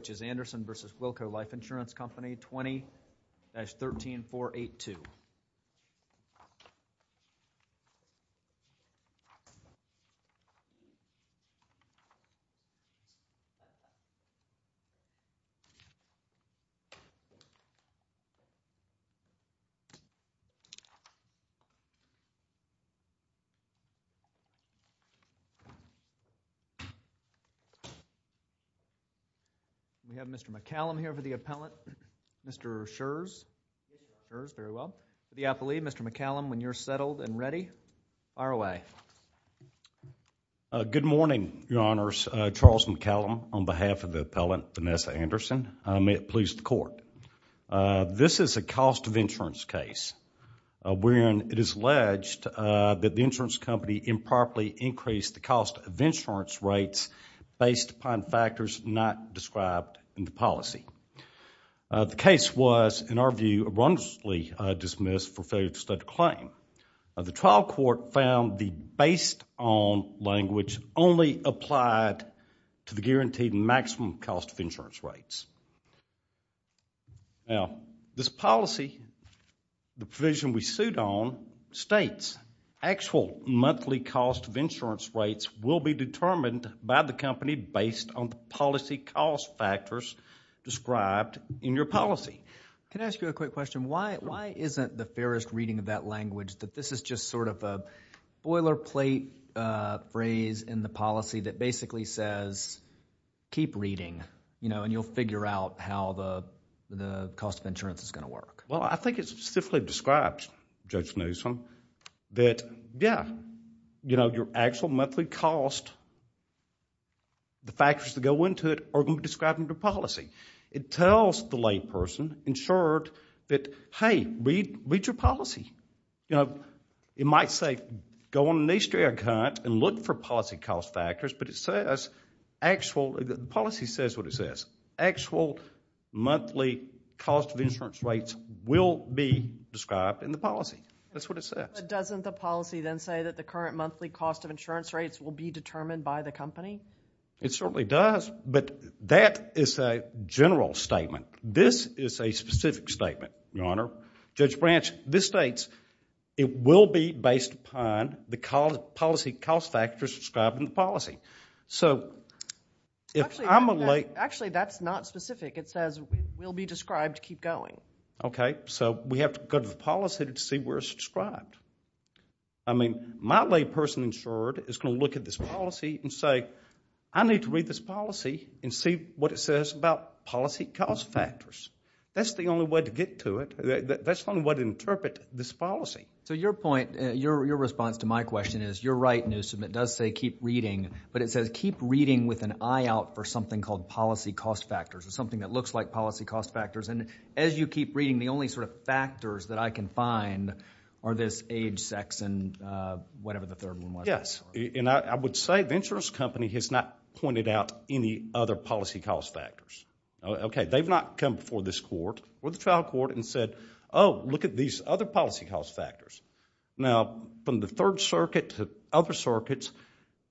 which is Anderson v. Wilco Life Insurance Company, 20-13482. We have Mr. McCallum here for the appellant, Mr. Scherz, Scherz, very well, for the appellee. Mr. McCallum, when you're settled and ready, fire away. Good morning, Your Honors. Charles McCallum on behalf of the appellant, Vanessa Anderson. May it please the Court. This is a cost of insurance case wherein it is alleged that the insurance company improperly increased the cost of insurance rates based upon factors not described in the policy. The case was, in our view, wrongly dismissed for failure to study the claim. The trial court found the based on language only applied to the guaranteed maximum cost of insurance rates. Now, this policy, the provision we suit on, states actual monthly cost of insurance rates will be determined by the company based on the policy cost factors described in your policy. Can I ask you a quick question? Why isn't the fairest reading of that language that this is just sort of a boilerplate phrase in the policy that basically says, keep reading, and you'll figure out how the cost of insurance is going to work? Well, I think it specifically describes, Judge Newsom, that, yeah, your actual monthly cost, the factors that go into it are going to be described in your policy. It tells the layperson insured that, hey, read your policy. It might say, go on an Easter egg hunt and look for policy cost factors, but the policy says what it says. Actual monthly cost of insurance rates will be described in the policy. That's what it says. But doesn't the policy then say that the current monthly cost of insurance rates will be determined by the company? It certainly does, but that is a general statement. This is a specific statement, Your Honor. Judge Branch, this states it will be based upon the policy cost factors described in the policy. Actually, that's not specific. It says it will be described to keep going. Okay. So we have to go to the policy to see where it's described. I mean, my layperson insured is going to look at this policy and say, I need to read this policy and see what it says about policy cost factors. That's the only way to get to it. That's the only way to interpret this policy. So your point, your response to my question is you're right, Newsom. It does say keep reading, but it says keep reading with an eye out for something called policy cost factors or something that looks like policy cost factors. And as you keep reading, the only sort of factors that I can find are this age, sex, and whatever the third one was. Yes. And I would say the insurance company has not pointed out any other policy cost factors. Okay. They've not come before this court or the trial court and said, oh, look at these other policy cost factors. Now, from the Third Circuit to other circuits,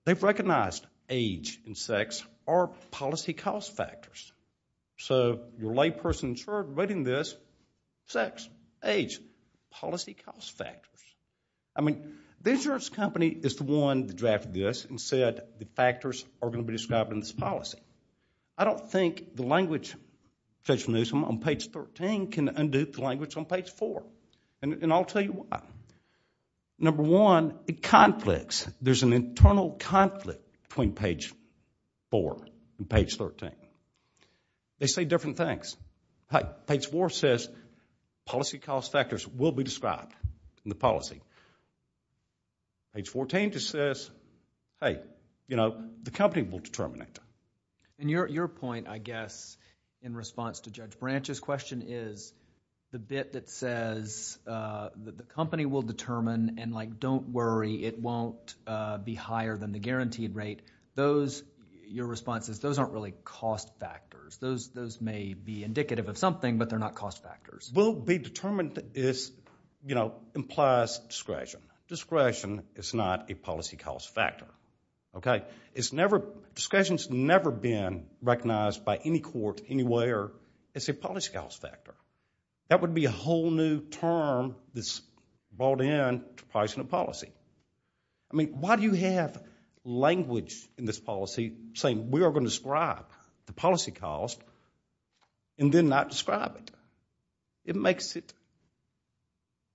they've recognized age and sex are policy cost factors. So your layperson insured reading this, sex, age, policy cost factors. I mean, the insurance company is the one that drafted this and said the factors are going to be described in this policy. I don't think the language, Judge Newsom, on page 13 can undo the language on page 4. And I'll tell you why. Number one, it conflicts. There's an internal conflict between page 4 and page 13. They say different things. Page 4 says policy cost factors will be described in the policy. Page 14 just says, hey, you know, the company will determine it. And your point, I guess, in response to Judge Branch's question, is the bit that says that the company will determine and, like, don't worry, it won't be higher than the guaranteed rate, your response is those aren't really cost factors. Those may be indicative of something, but they're not cost factors. Will be determined implies discretion. Discretion is not a policy cost factor. Okay? Discretion's never been recognized by any court anywhere as a policy cost factor. That would be a whole new term that's brought in to pricing a policy. I mean, why do you have language in this policy saying we are going to describe the policy cost and then not describe it? It makes it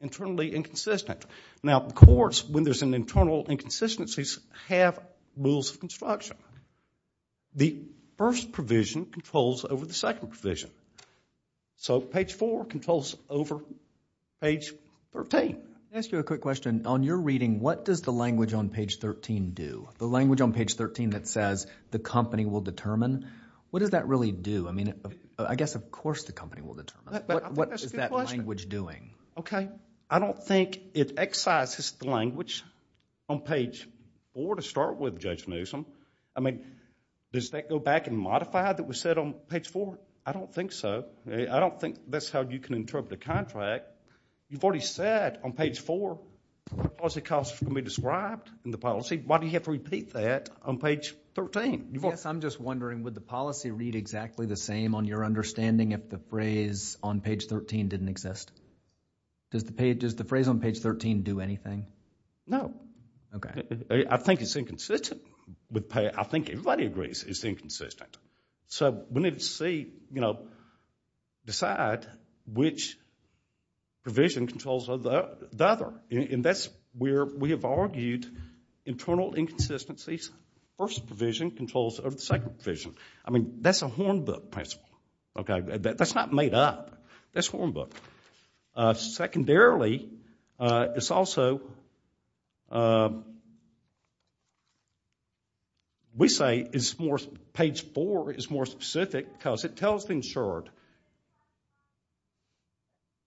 internally inconsistent. Now, courts, when there's an internal inconsistency, have rules of construction. The first provision controls over the second provision. So page 4 controls over page 13. I'll ask you a quick question. On your reading, what does the language on page 13 do? The language on page 13 that says the company will determine, what does that really do? I mean, I guess, of course, the company will determine. What is that language doing? Okay. I don't think it excises the language on page 4 to start with, Judge Newsom. I mean, does that go back and modify that was said on page 4? I don't think so. I don't think that's how you can interpret a contract. You've already said on page 4, policy costs can be described in the policy. Why do you have to repeat that on page 13? Yes, I'm just wondering, would the policy read exactly the same on your understanding if the phrase on page 13 didn't exist? Does the phrase on page 13 do anything? No. Okay. I think it's inconsistent. I think everybody agrees it's inconsistent. So we need to see, decide which provision controls the other. And that's where we have argued internal inconsistencies. First provision controls over the second provision. I mean, that's a horn book principle. That's not made up. That's a horn book. Secondarily, it's also, we say it's more, page 4 is more specific because it tells the insured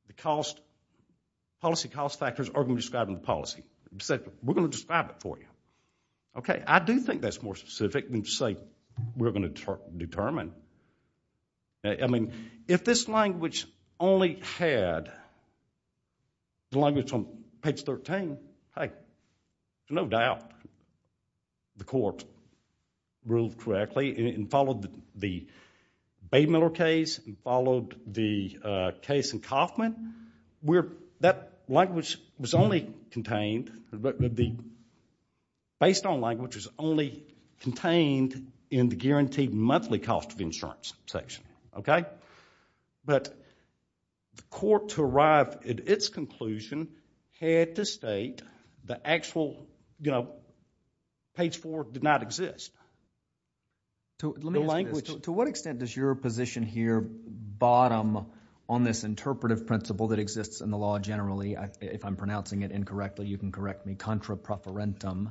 that the policy cost factors are going to be described in the policy. We're going to describe it for you. Okay. I do think that's more specific than to say we're going to determine. I mean, if this language only had the language on page 13, hey, there's no doubt the court ruled correctly and followed the Baymiller case and followed the case in Kauffman. That language was only contained, based on language was only contained in the guaranteed monthly cost of insurance section. Okay. But the court, to arrive at its conclusion, had to state the actual, you know, page 4 did not exist. Let me ask this. To what extent does your position here bottom on this interpretive principle that exists in the law generally, if I'm pronouncing it incorrectly, you can correct me, contra profferentum,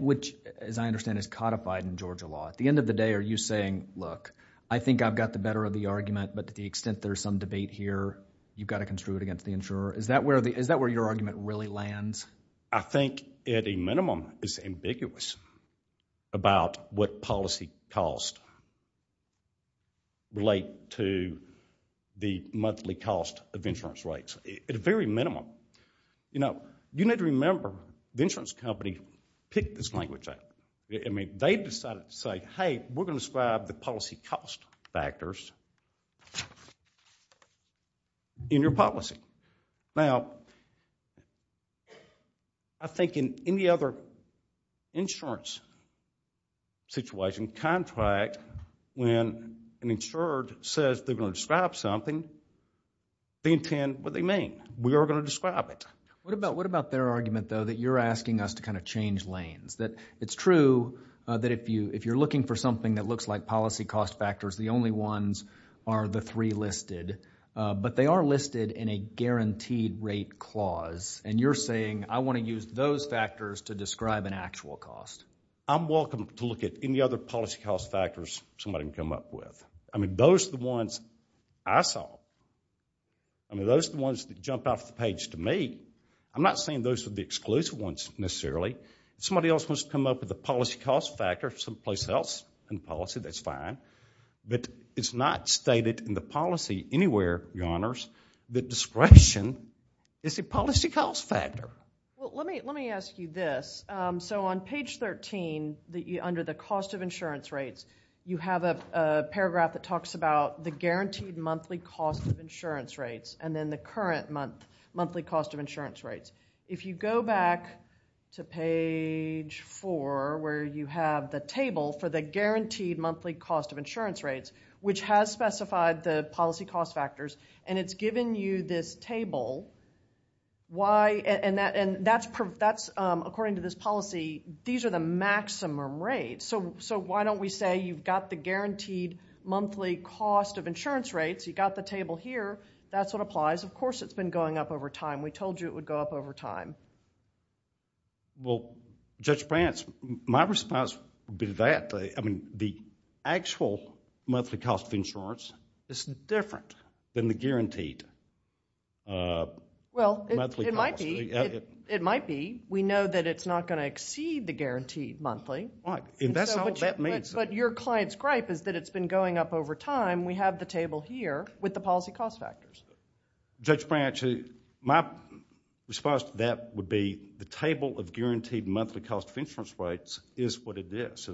which as I understand is codified in Georgia law. At the end of the day, are you saying, look, I think I've got the better of the argument, but to the extent there's some debate here, you've got to construe it against the insurer. Is that where your argument really lands? I think, at a minimum, it's ambiguous about what policy costs relate to the monthly cost of insurance rates. At a very minimum. You know, you need to remember, the insurance company picked this language up. I mean, they decided to say, hey, we're going to describe the policy cost factors in your policy. Now, I think in any other insurance situation, contract, when an insured says they're going to describe something, they intend what they mean. We are going to describe it. What about their argument, though, that you're asking us to kind of change lanes? That it's true that if you're looking for something that looks like policy cost factors, the only ones are the three listed. But they are listed in a guaranteed rate clause. And you're saying, I want to use those factors to describe an actual cost. I'm welcome to look at any other policy cost factors somebody can come up with. I mean, those are the ones I saw. I mean, those are the ones that jump off the page to me. I'm not saying those are the exclusive ones, necessarily. If somebody else wants to come up with a policy cost factor someplace else in policy, that's fine. But it's not stated in the policy anywhere, Your Honors, that discretion is a policy cost factor. Let me ask you this. So on page 13, under the cost of insurance rates, you have a paragraph that talks about the guaranteed monthly cost of insurance rates and then the current monthly cost of insurance rates. If you go back to page 4, where you have the table for the guaranteed monthly cost of insurance rates, which has specified the policy cost factors, and it's given you this table, and according to this policy, these are the maximum rates. So why don't we say you've got the guaranteed monthly cost of insurance rates, you've got the table here, that's what applies. Of course it's been going up over time. We told you it would go up over time. Well, Judge Prance, my response would be that. I mean, the actual monthly cost of insurance is different than the guaranteed monthly cost. Well, it might be. We know that it's not going to exceed the guaranteed monthly. But your client's gripe is that it's been going up over time. We have the table here with the policy cost factors. Judge Prance, my response to that would be the table of guaranteed monthly cost of insurance rates is what it is.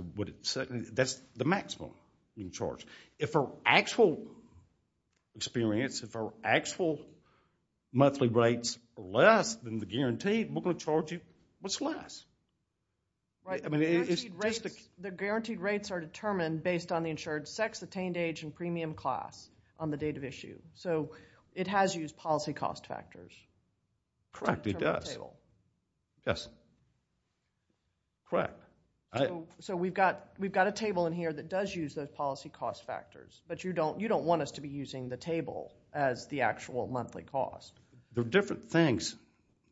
That's the maximum you can charge. If our actual experience, if our actual monthly rates are less than the guaranteed, we're going to charge you much less. I mean, it's just a... The guaranteed rates are determined based on the insured sex, attained age, and premium class on the date of issue. So, it has used policy cost factors. Correct, it does. Yes. Correct. So, we've got a table in here that does use those policy cost factors. But you don't want us to be using the table as the actual monthly cost. They're different things,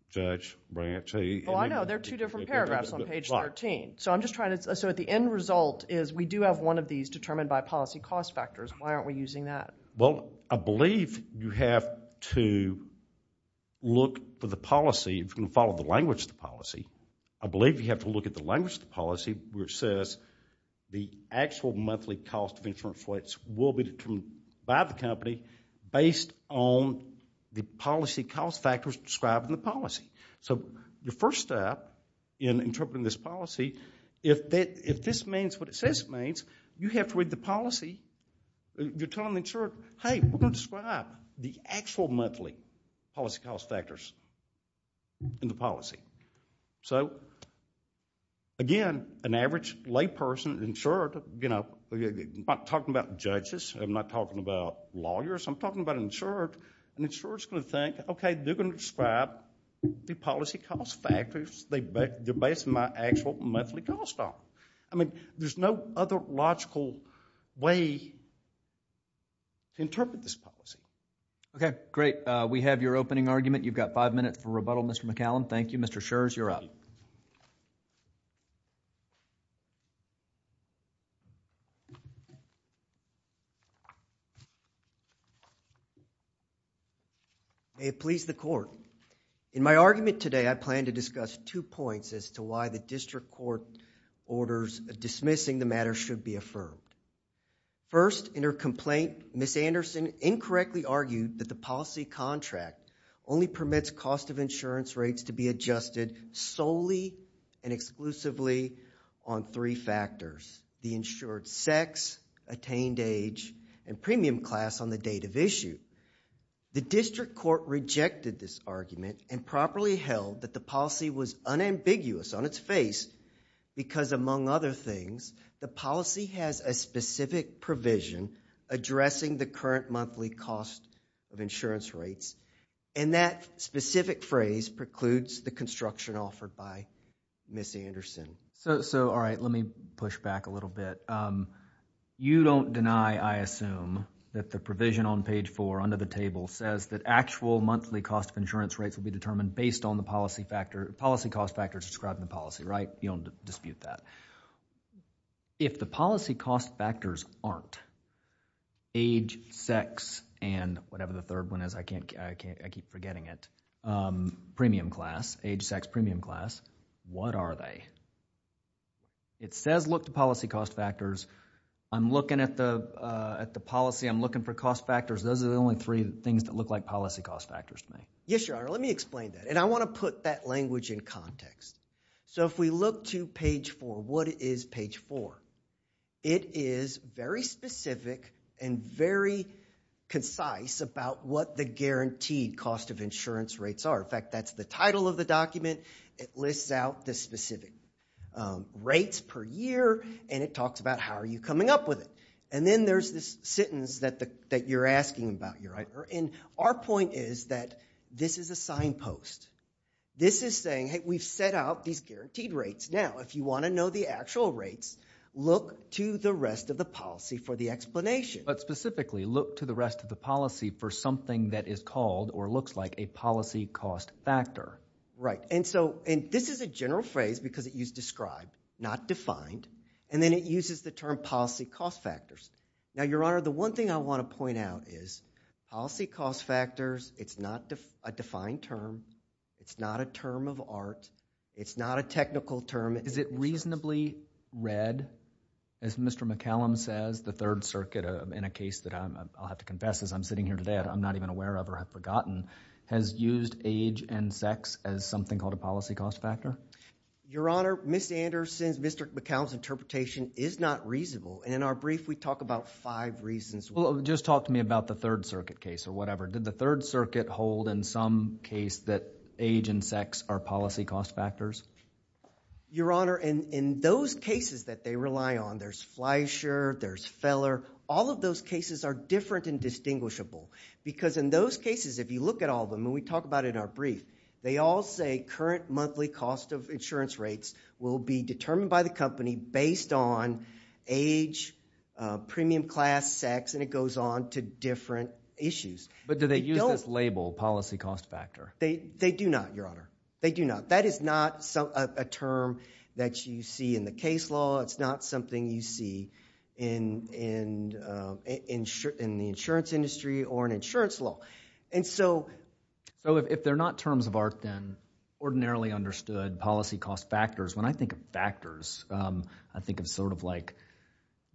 Judge Brante. Well, I know. They're two different paragraphs on page 13. So, I'm just trying to... So, the end result is we do have one of these determined by policy cost factors. Why aren't we using that? Well, I believe you have to look for the policy if you're going to follow the language of the policy. I believe you have to look at the language of the policy where it says the actual monthly cost of insurance rates will be determined by the company based on the policy cost factors described in the policy. So, your first step in interpreting this policy, you have to read the policy. You're telling the insured, hey, we're going to describe the actual monthly policy cost factors in the policy. So, again, an average layperson, insured, I'm not talking about judges. I'm not talking about lawyers. I'm talking about an insured. An insured's going to think, okay, they're going to describe the policy cost factors. They're based on my actual monthly cost. There's no other logical way to interpret this policy. Okay, great. We have your opening argument. You've got five minutes for rebuttal, Mr. McCallum. Thank you. Mr. Scherz, you're up. May it please the court. In my argument today, I plan to discuss two points as to why the district court orders dismissing the matter should be affirmed. First, in her complaint, Ms. Anderson incorrectly argued that the policy contract only permits cost of insurance rates to be adjusted solely and exclusively on three factors, the insured's sex, attained age, and premium class on the date of issue. The district court rejected this argument and properly held that the policy was unambiguous on its face because, among other things, the policy has a specific provision addressing the current monthly cost of insurance rates, and that specific phrase precludes the construction offered by Ms. Anderson. So, all right, let me push back a little bit. You don't deny, I assume, that the provision on page 4 under the table says that actual monthly cost of insurance rates will be determined based on the policy cost factors described in the policy, right? You don't dispute that. If the policy cost factors aren't age, sex, and whatever the third one is, I keep forgetting it, premium class, age, sex, premium class, what are they? It says look to policy cost factors. I'm looking at the policy. I'm looking for cost factors. Those are the only three things that look like policy cost factors to me. Yes, Your Honor, let me explain that, and I want to put that language in context. So if we look to page 4, what is page 4? It is very specific and very concise about what the guaranteed cost of insurance rates are. In fact, that's the title of the document. It lists out the specific rates per year, and it talks about how are you coming up with it, and then there's this sentence that you're asking about, Your Honor, and our point is that this is a signpost. This is saying, hey, we've set out these guaranteed rates. Now, if you want to know the actual rates, look to the rest of the policy for the explanation. But specifically, look to the rest of the policy for something that is called or looks like a policy cost factor. Right, and so this is a general phrase because it used described, not defined, and then it uses the term policy cost factors. Now, Your Honor, the one thing I want to point out is policy cost factors, it's not a defined term. It's not a term of art. It's not a technical term. Is it reasonably read? As Mr. McCallum says, the Third Circuit, in a case that I'll have to confess, as I'm sitting here today, I'm not even aware of or have forgotten, has used age and sex as something called a policy cost factor. Your Honor, Ms. Anderson, Mr. McCallum's interpretation is not reasonable, and in our brief, we talk about five reasons. Well, just talk to me about the Third Circuit case or whatever. Did the Third Circuit hold in some case that age and sex are policy cost factors? Your Honor, in those cases that they rely on, there's Fleischer, there's Feller, all of those cases are different and distinguishable because in those cases, if you look at all of them, and we talk about it in our brief, they all say current monthly cost of insurance rates will be determined by the company based on age, premium class, sex, and it goes on to different issues. But do they use this label, policy cost factor? They do not, Your Honor. They do not. That is not a term that you see in the case law. It's not something you see in the insurance industry or in insurance law, and so... So if they're not terms of art, then ordinarily understood policy cost factors, when I think of factors, I think of sort of like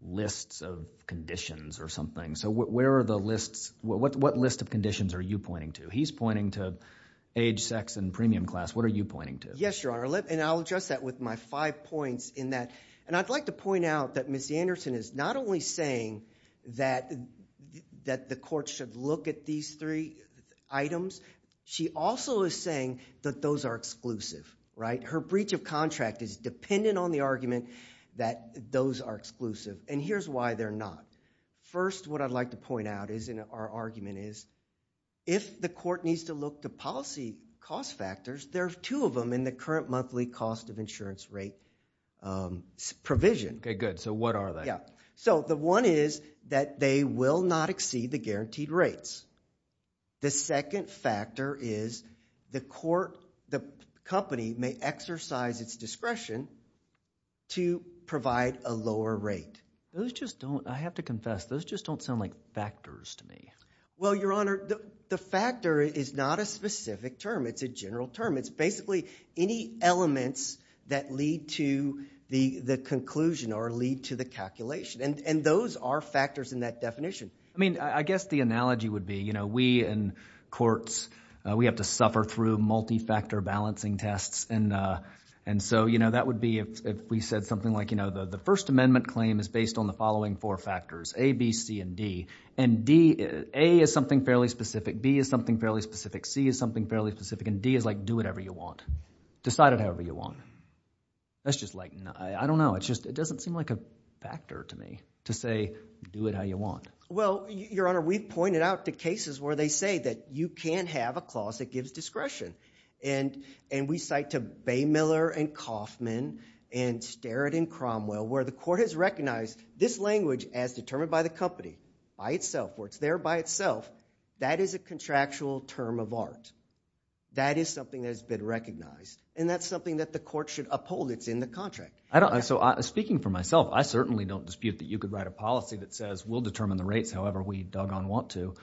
lists of conditions or something. So where are the lists? What list of conditions are you pointing to? He's pointing to age, sex, and premium class. What are you pointing to? Yes, Your Honor, and I'll address that with my five points in that. And I'd like to point out that Ms. Anderson is not only saying that the court should look at these three items, she also is saying that those are exclusive, right? Her breach of contract is dependent on the argument that those are exclusive, and here's why they're not. First, what I'd like to point out in our argument is if the court needs to look to policy cost factors, there are two of them in the current monthly cost of insurance rate provision. Okay, good. So what are they? So the one is that they will not exceed the guaranteed rates. The second factor is the court, the company, may exercise its discretion to provide a lower rate. Those just don't, I have to confess, those just don't sound like factors to me. Well, Your Honor, the factor is not a specific term. It's a general term. It's basically any elements that lead to the conclusion or lead to the calculation, and those are factors in that definition. I mean, I guess the analogy would be we in courts, we have to suffer through multi-factor balancing tests, and so that would be if we said something like the First Amendment claim is based on the following four factors, A, B, C, and D, and A is something fairly specific, B is something fairly specific, C is something fairly specific, and D is like do whatever you want. Decide it however you want. That's just like, I don't know. It just doesn't seem like a factor to me to say do it how you want. Well, Your Honor, we've pointed out to cases where they say that you can't have a clause that gives discretion, and we cite to Baymiller and Kaufman and Sterrett and Cromwell where the court has recognized this language as determined by the company by itself, where it's there by itself. That is a contractual term of art. That is something that has been recognized, and that's something that the court should uphold. It's in the contract. So speaking for myself, I certainly don't dispute that you could write a policy that says we'll determine the rates however we doggone want to.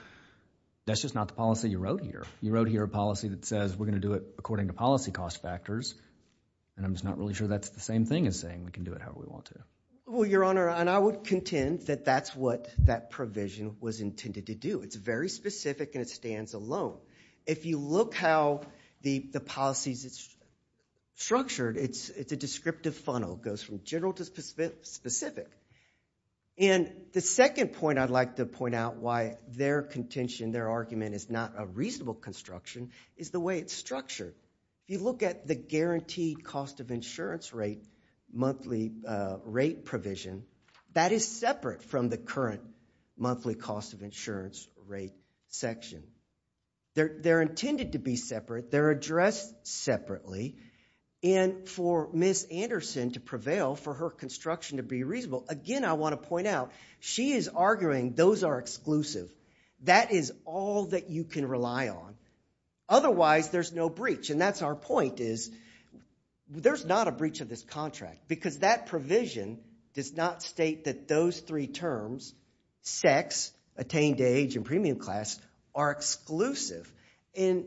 That's just not the policy you wrote here. You wrote here a policy that says we're going to do it according to policy cost factors, and I'm just not really sure that's the same thing as saying we can do it however we want to. Well, Your Honor, and I would contend that that's what that provision was intended to do. It's very specific and it stands alone. If you look how the policy is structured, it's a descriptive funnel. It goes from general to specific. And the second point I'd like to point out why their contention, their argument is not a reasonable construction, is the way it's structured. If you look at the guaranteed cost of insurance rate, monthly rate provision, that is separate from the current monthly cost of insurance rate section. They're intended to be separate. They're addressed separately. And for Ms. Anderson to prevail, for her construction to be reasonable, again, I want to point out she is arguing those are exclusive. That is all that you can rely on. Otherwise, there's no breach. And that's our point is there's not a breach of this contract because that provision does not state that those three terms, sex, attained age, and premium class are exclusive. And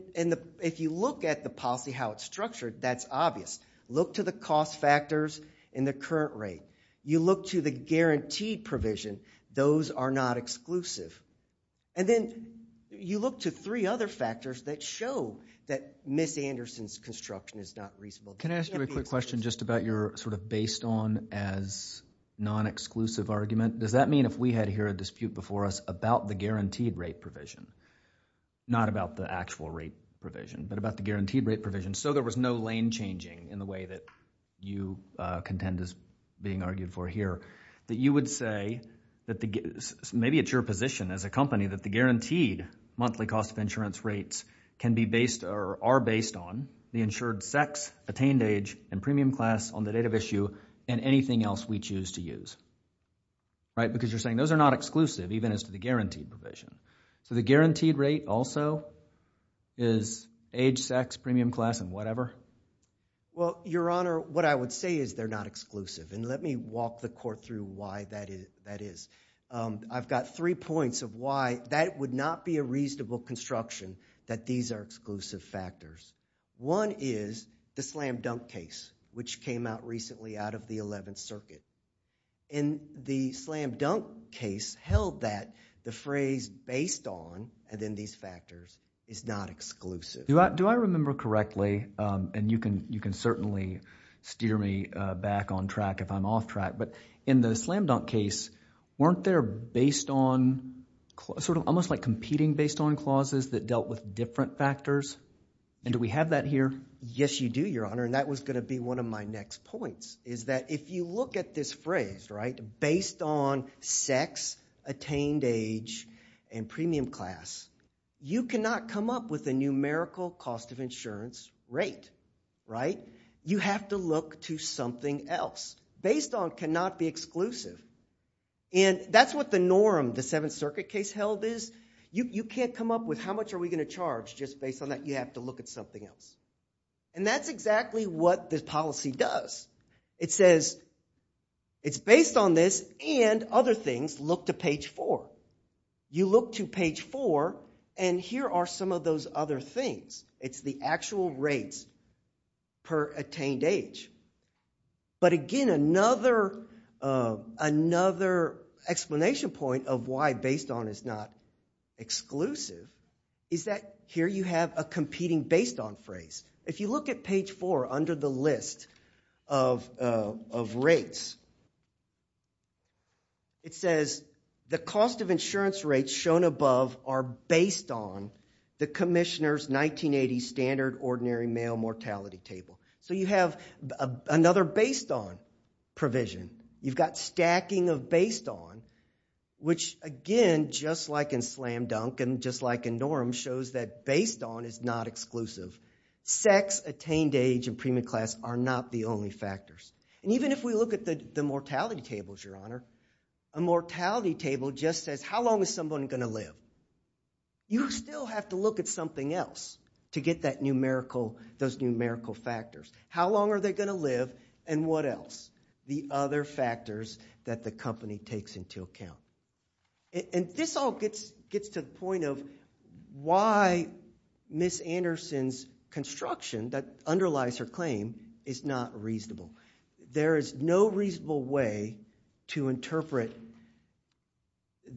if you look at the policy, how it's structured, that's obvious. Look to the cost factors in the current rate. You look to the guaranteed provision. Those are not exclusive. And then you look to three other factors that show that Ms. Anderson's construction is not reasonable. Can I ask you a quick question just about your sort of based on as non-exclusive argument? Does that mean if we had here a dispute before us about the guaranteed rate provision, not about the actual rate provision, but about the guaranteed rate provision, so there was no lane changing in the way that you contend is being argued for here, that you would say that maybe it's your position as a company that the guaranteed monthly cost of insurance rates can be based or are based on the insured sex, attained age, and premium class on the date of issue and anything else we choose to use, right? Because you're saying those are not exclusive even as to the guaranteed provision. So the guaranteed rate also is age, sex, premium class, and whatever? Well, Your Honor, what I would say is they're not exclusive. And let me walk the court through why that is. I've got three points of why that would not be a reasonable construction that these are exclusive factors. One is the slam dunk case, which came out recently out of the 11th Circuit. And the slam dunk case held that the phrase based on, and then these factors, is not exclusive. Do I remember correctly, and you can certainly steer me back on track if I'm off track, but in the slam dunk case, weren't there based on, sort of almost like competing based on clauses that dealt with different factors? And do we have that here? Yes, you do, Your Honor, and that was going to be one of my next points, is that if you look at this phrase, right, based on sex, attained age, and premium class, you cannot come up with a numerical cost of insurance rate, right? You have to look to something else. Based on cannot be exclusive. And that's what the norm, the 7th Circuit case held, is. You can't come up with how much are we going to charge just based on that. You have to look at something else. And that's exactly what this policy does. It says it's based on this and other things. Look to page 4. You look to page 4, and here are some of those other things. It's the actual rates per attained age. But again, another explanation point of why based on is not exclusive is that here you have a competing based on phrase. If you look at page 4 under the list of rates, it says the cost of insurance rates shown above are based on the commissioner's 1980 standard ordinary male mortality table. So you have another based on provision. You've got stacking of based on, which again, just like in slam dunk and just like in norm, shows that based on is not exclusive. Sex, attained age, and premium class are not the only factors. And even if we look at the mortality tables, your honor, a mortality table just says how long is someone going to live? You still have to look at something else to get those numerical factors. How long are they going to live, and what else? The other factors that the company takes into account. And this all gets to the point of why Ms. Anderson's construction that underlies her claim is not reasonable. There is no reasonable way to interpret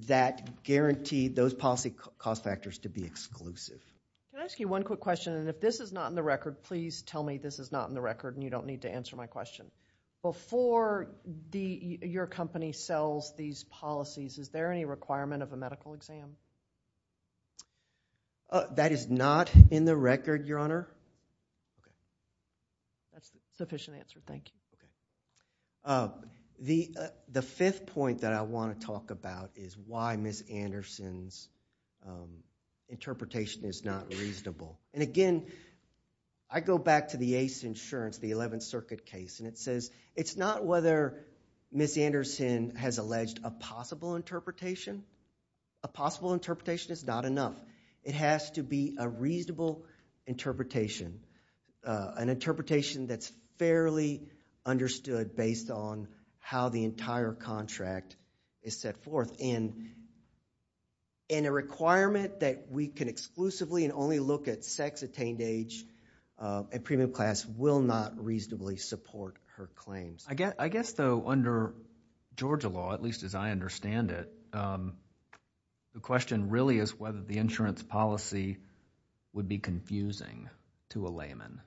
that guarantee those policy cost factors to be exclusive. Can I ask you one quick question, and if this is not in the record, please tell me this is not in the record and you don't need to answer my question. Before your company sells these policies, is there any requirement of a medical exam? That is not in the record, your honor. That's a sufficient answer, thank you. The fifth point that I want to talk about is why Ms. Anderson's interpretation is not reasonable. And again, I go back to the ACE insurance, the 11th Circuit case, and it says it's not whether Ms. Anderson has alleged a possible interpretation. A possible interpretation is not enough. It has to be a reasonable interpretation, an interpretation that's fairly understood based on how the entire contract is set forth. And a requirement that we can exclusively and only look at sex, attained age, and premium class will not reasonably support her claims. I guess, though, under Georgia law, at least as I understand it, the question really is whether the insurance policy would be confusing to a layman.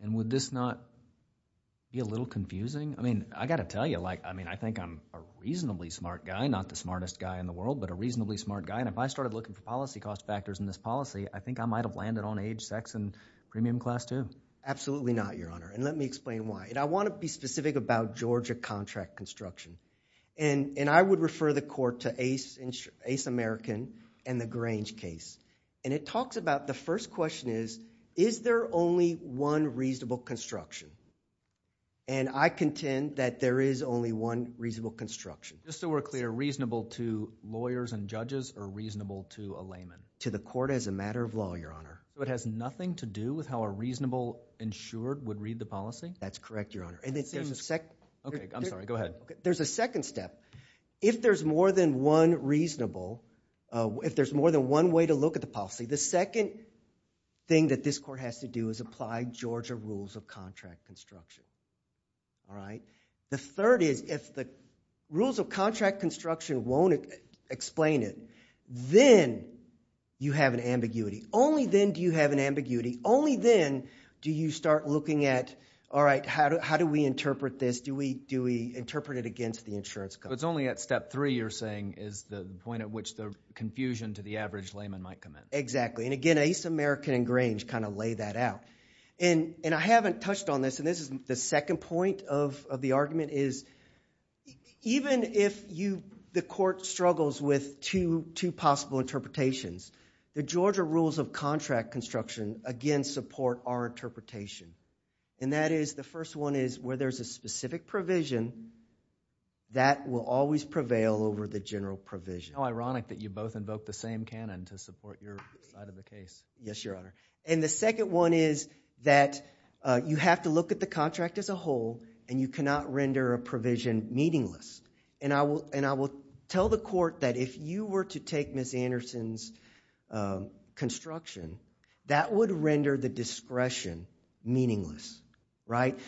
And would this not be a little confusing? I mean, I got to tell you, I think I'm a reasonably smart guy, not the smartest guy in the world, but a reasonably smart guy, and if I started looking for policy cost factors in this policy, I think I might have landed on age, sex, and premium class, too. Absolutely not, Your Honor. And let me explain why. And I want to be specific about Georgia contract construction. And I would refer the court to ACE American and the Grange case. And it talks about, the first question is, is there only one reasonable construction? And I contend that there is only one reasonable construction. Just so we're clear, reasonable to lawyers and judges or reasonable to a layman? To the court as a matter of law, Your Honor. So it has nothing to do with how a reasonable insured would read the policy? That's correct, Your Honor. Okay, I'm sorry, go ahead. There's a second step. If there's more than one reasonable, if there's more than one way to look at the policy, the second thing that this court has to do is apply Georgia rules of contract construction. All right? The third is, if the rules of contract construction won't explain it, then you have an ambiguity. Only then do you have an ambiguity. Only then do you start looking at, all right, how do we interpret this? Do we interpret it against the insurance company? It's only at step three you're saying is the point at which the confusion to the average layman might come in. Exactly, and again, ACE American and Grange kind of lay that out. And I haven't touched on this, and this is the second point of the argument, is even if the court struggles with two possible interpretations, the Georgia rules of contract construction, again, support our interpretation. And that is, the first one is, where there's a specific provision, that will always prevail over the general provision. How ironic that you both invoke the same canon to support your side of the case. Yes, Your Honor. And the second one is that you have to look at the contract as a whole, and you cannot render a provision meaningless. And I will tell the court that if you were to take Ms. Anderson's construction, that would render the discretion meaningless. Right?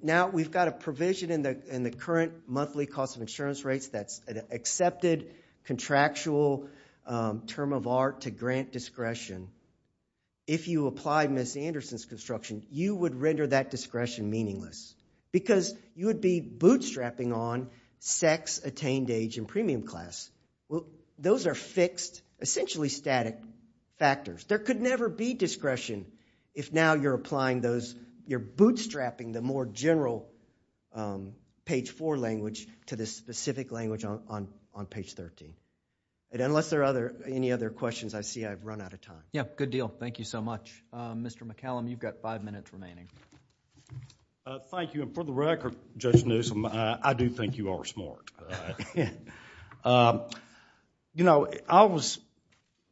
Now we've got a provision in the current monthly cost of insurance rates that's an accepted contractual term of art to grant discretion. If you apply Ms. Anderson's construction, you would render that discretion meaningless, because you would be bootstrapping on sex, attained age, and premium class. Those are fixed, essentially static factors. There could never be discretion if now you're applying those, you're bootstrapping the more general page four language to the specific language on page 13. And unless there are any other questions, I see I've run out of time. Yeah, good deal. Thank you so much. Mr. McCallum, you've got five minutes remaining. Thank you. And for the record, Judge Newsom, I do think you are smart. You know, I always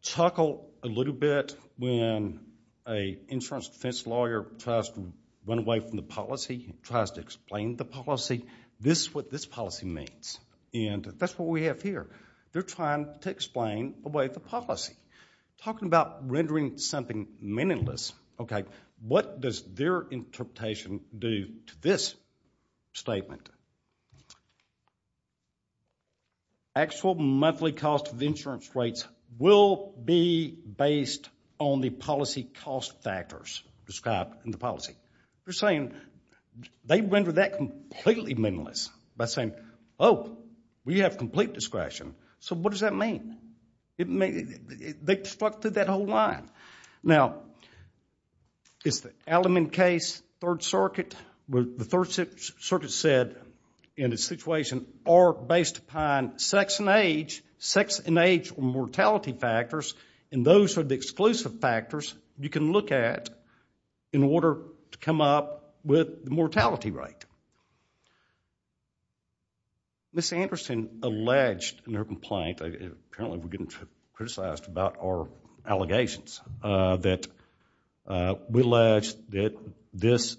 chuckle a little bit when an insurance defense lawyer tries to run away from the policy, tries to explain the policy. This is what this policy means, and that's what we have here. They're trying to explain away the policy. Talking about rendering something meaningless, okay, what does their interpretation do to this statement? Actual monthly cost of insurance rates will be based on the policy cost factors described in the policy. They're saying they render that completely meaningless by saying, oh, we have complete discretion. So what does that mean? They've stuck to that whole line. Now, it's the Alleman case, Third Circuit, where the Third Circuit said in a situation or based upon sex and age, sex and age or mortality factors, and those are the exclusive factors you can look at in order to come up with the mortality rate. Ms. Anderson alleged in her complaint, apparently we're getting criticized about our allegations, that we allege that this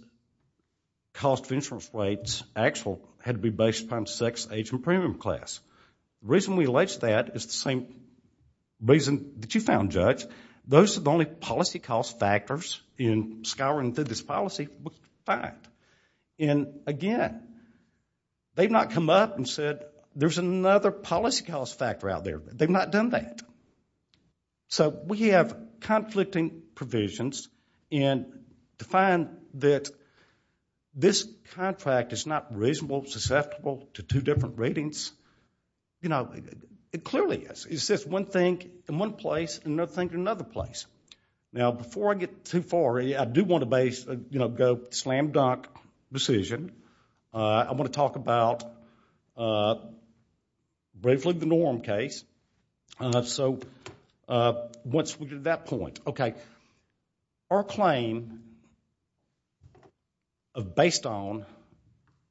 cost of insurance rates actually had to be based upon sex, age, and premium class. The reason we allege that is the same reason that you found, Judge. Those are the only policy cost factors in scouring through this policy we find. And again, they've not come up and said, there's another policy cost factor out there. They've not done that. So we have conflicting provisions, and to find that this contract is not reasonable, susceptible to two different ratings, it clearly is. It's just one thing in one place and another thing in another place. Now, before I get too far, I do want to go slam-dunk decision. I want to talk about, briefly, the Norm case. So once we get to that point, okay. Our claim of based on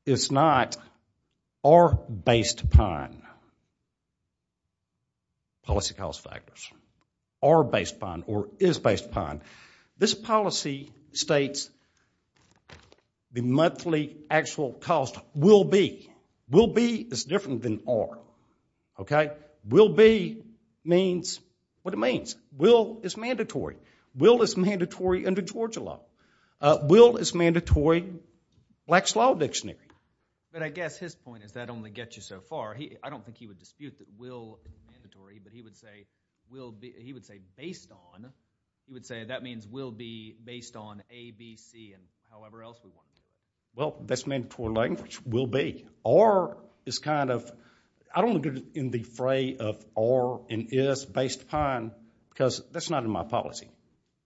is not our based upon policy cost factors, our based upon or is based upon. This policy states the monthly actual cost will be. Will be is different than are, okay. Will be means what it means. Will is mandatory. Will is mandatory under Georgia law. Will is mandatory Black's Law Dictionary. But I guess his point is that only gets you so far. I don't think he would dispute that will is mandatory, but he would say based on, he would say that means will be based on A, B, C, and however else we want. Well, that's mandatory language, will be. Are is kind of, I don't look at it in the fray of are and is based upon because that's not in my policy.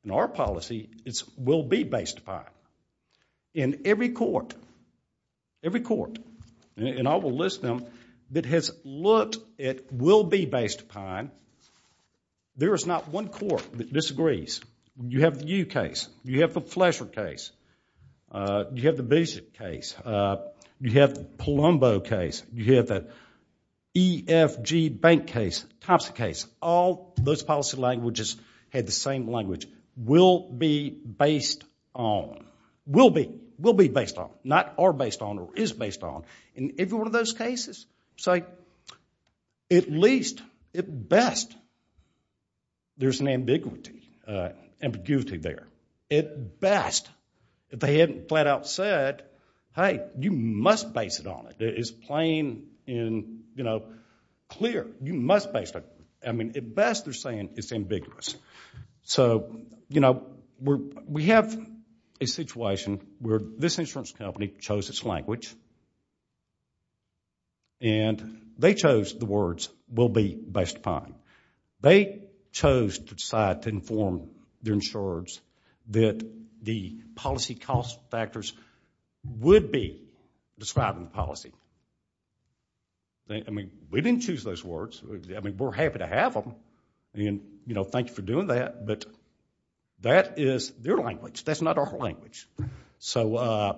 In our policy, it's will be based upon. In every court, every court, and I will list them, that has looked at will be based upon, there is not one court that disagrees. You have the U case. You have the Fletcher case. You have the Bishop case. You have the Palumbo case. You have the EFG Bank case, Thompson case. All those policy languages had the same language. Will be based on. Will be. Will be based on. Not are based on or is based on. In every one of those cases, so at least, at best, there's an ambiguity there. At best, if they hadn't flat out said, hey, you must base it on it. It's plain and clear. You must base that. I mean, at best, they're saying it's ambiguous. So we have a situation where this insurance company chose its language and they chose the words will be based upon. They chose to decide to inform their insurers that the policy cost factors would be described in the policy. I mean, we didn't choose those words. I mean, we're happy to have them and thank you for doing that, but that is their language. That's not our language. So I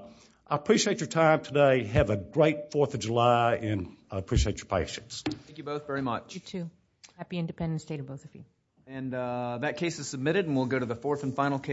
appreciate your time today. Have a great Fourth of July and I appreciate your patience. Thank you both very much. You too. Happy Independence Day to both of you. And that case is submitted and we'll go to the fourth and final case.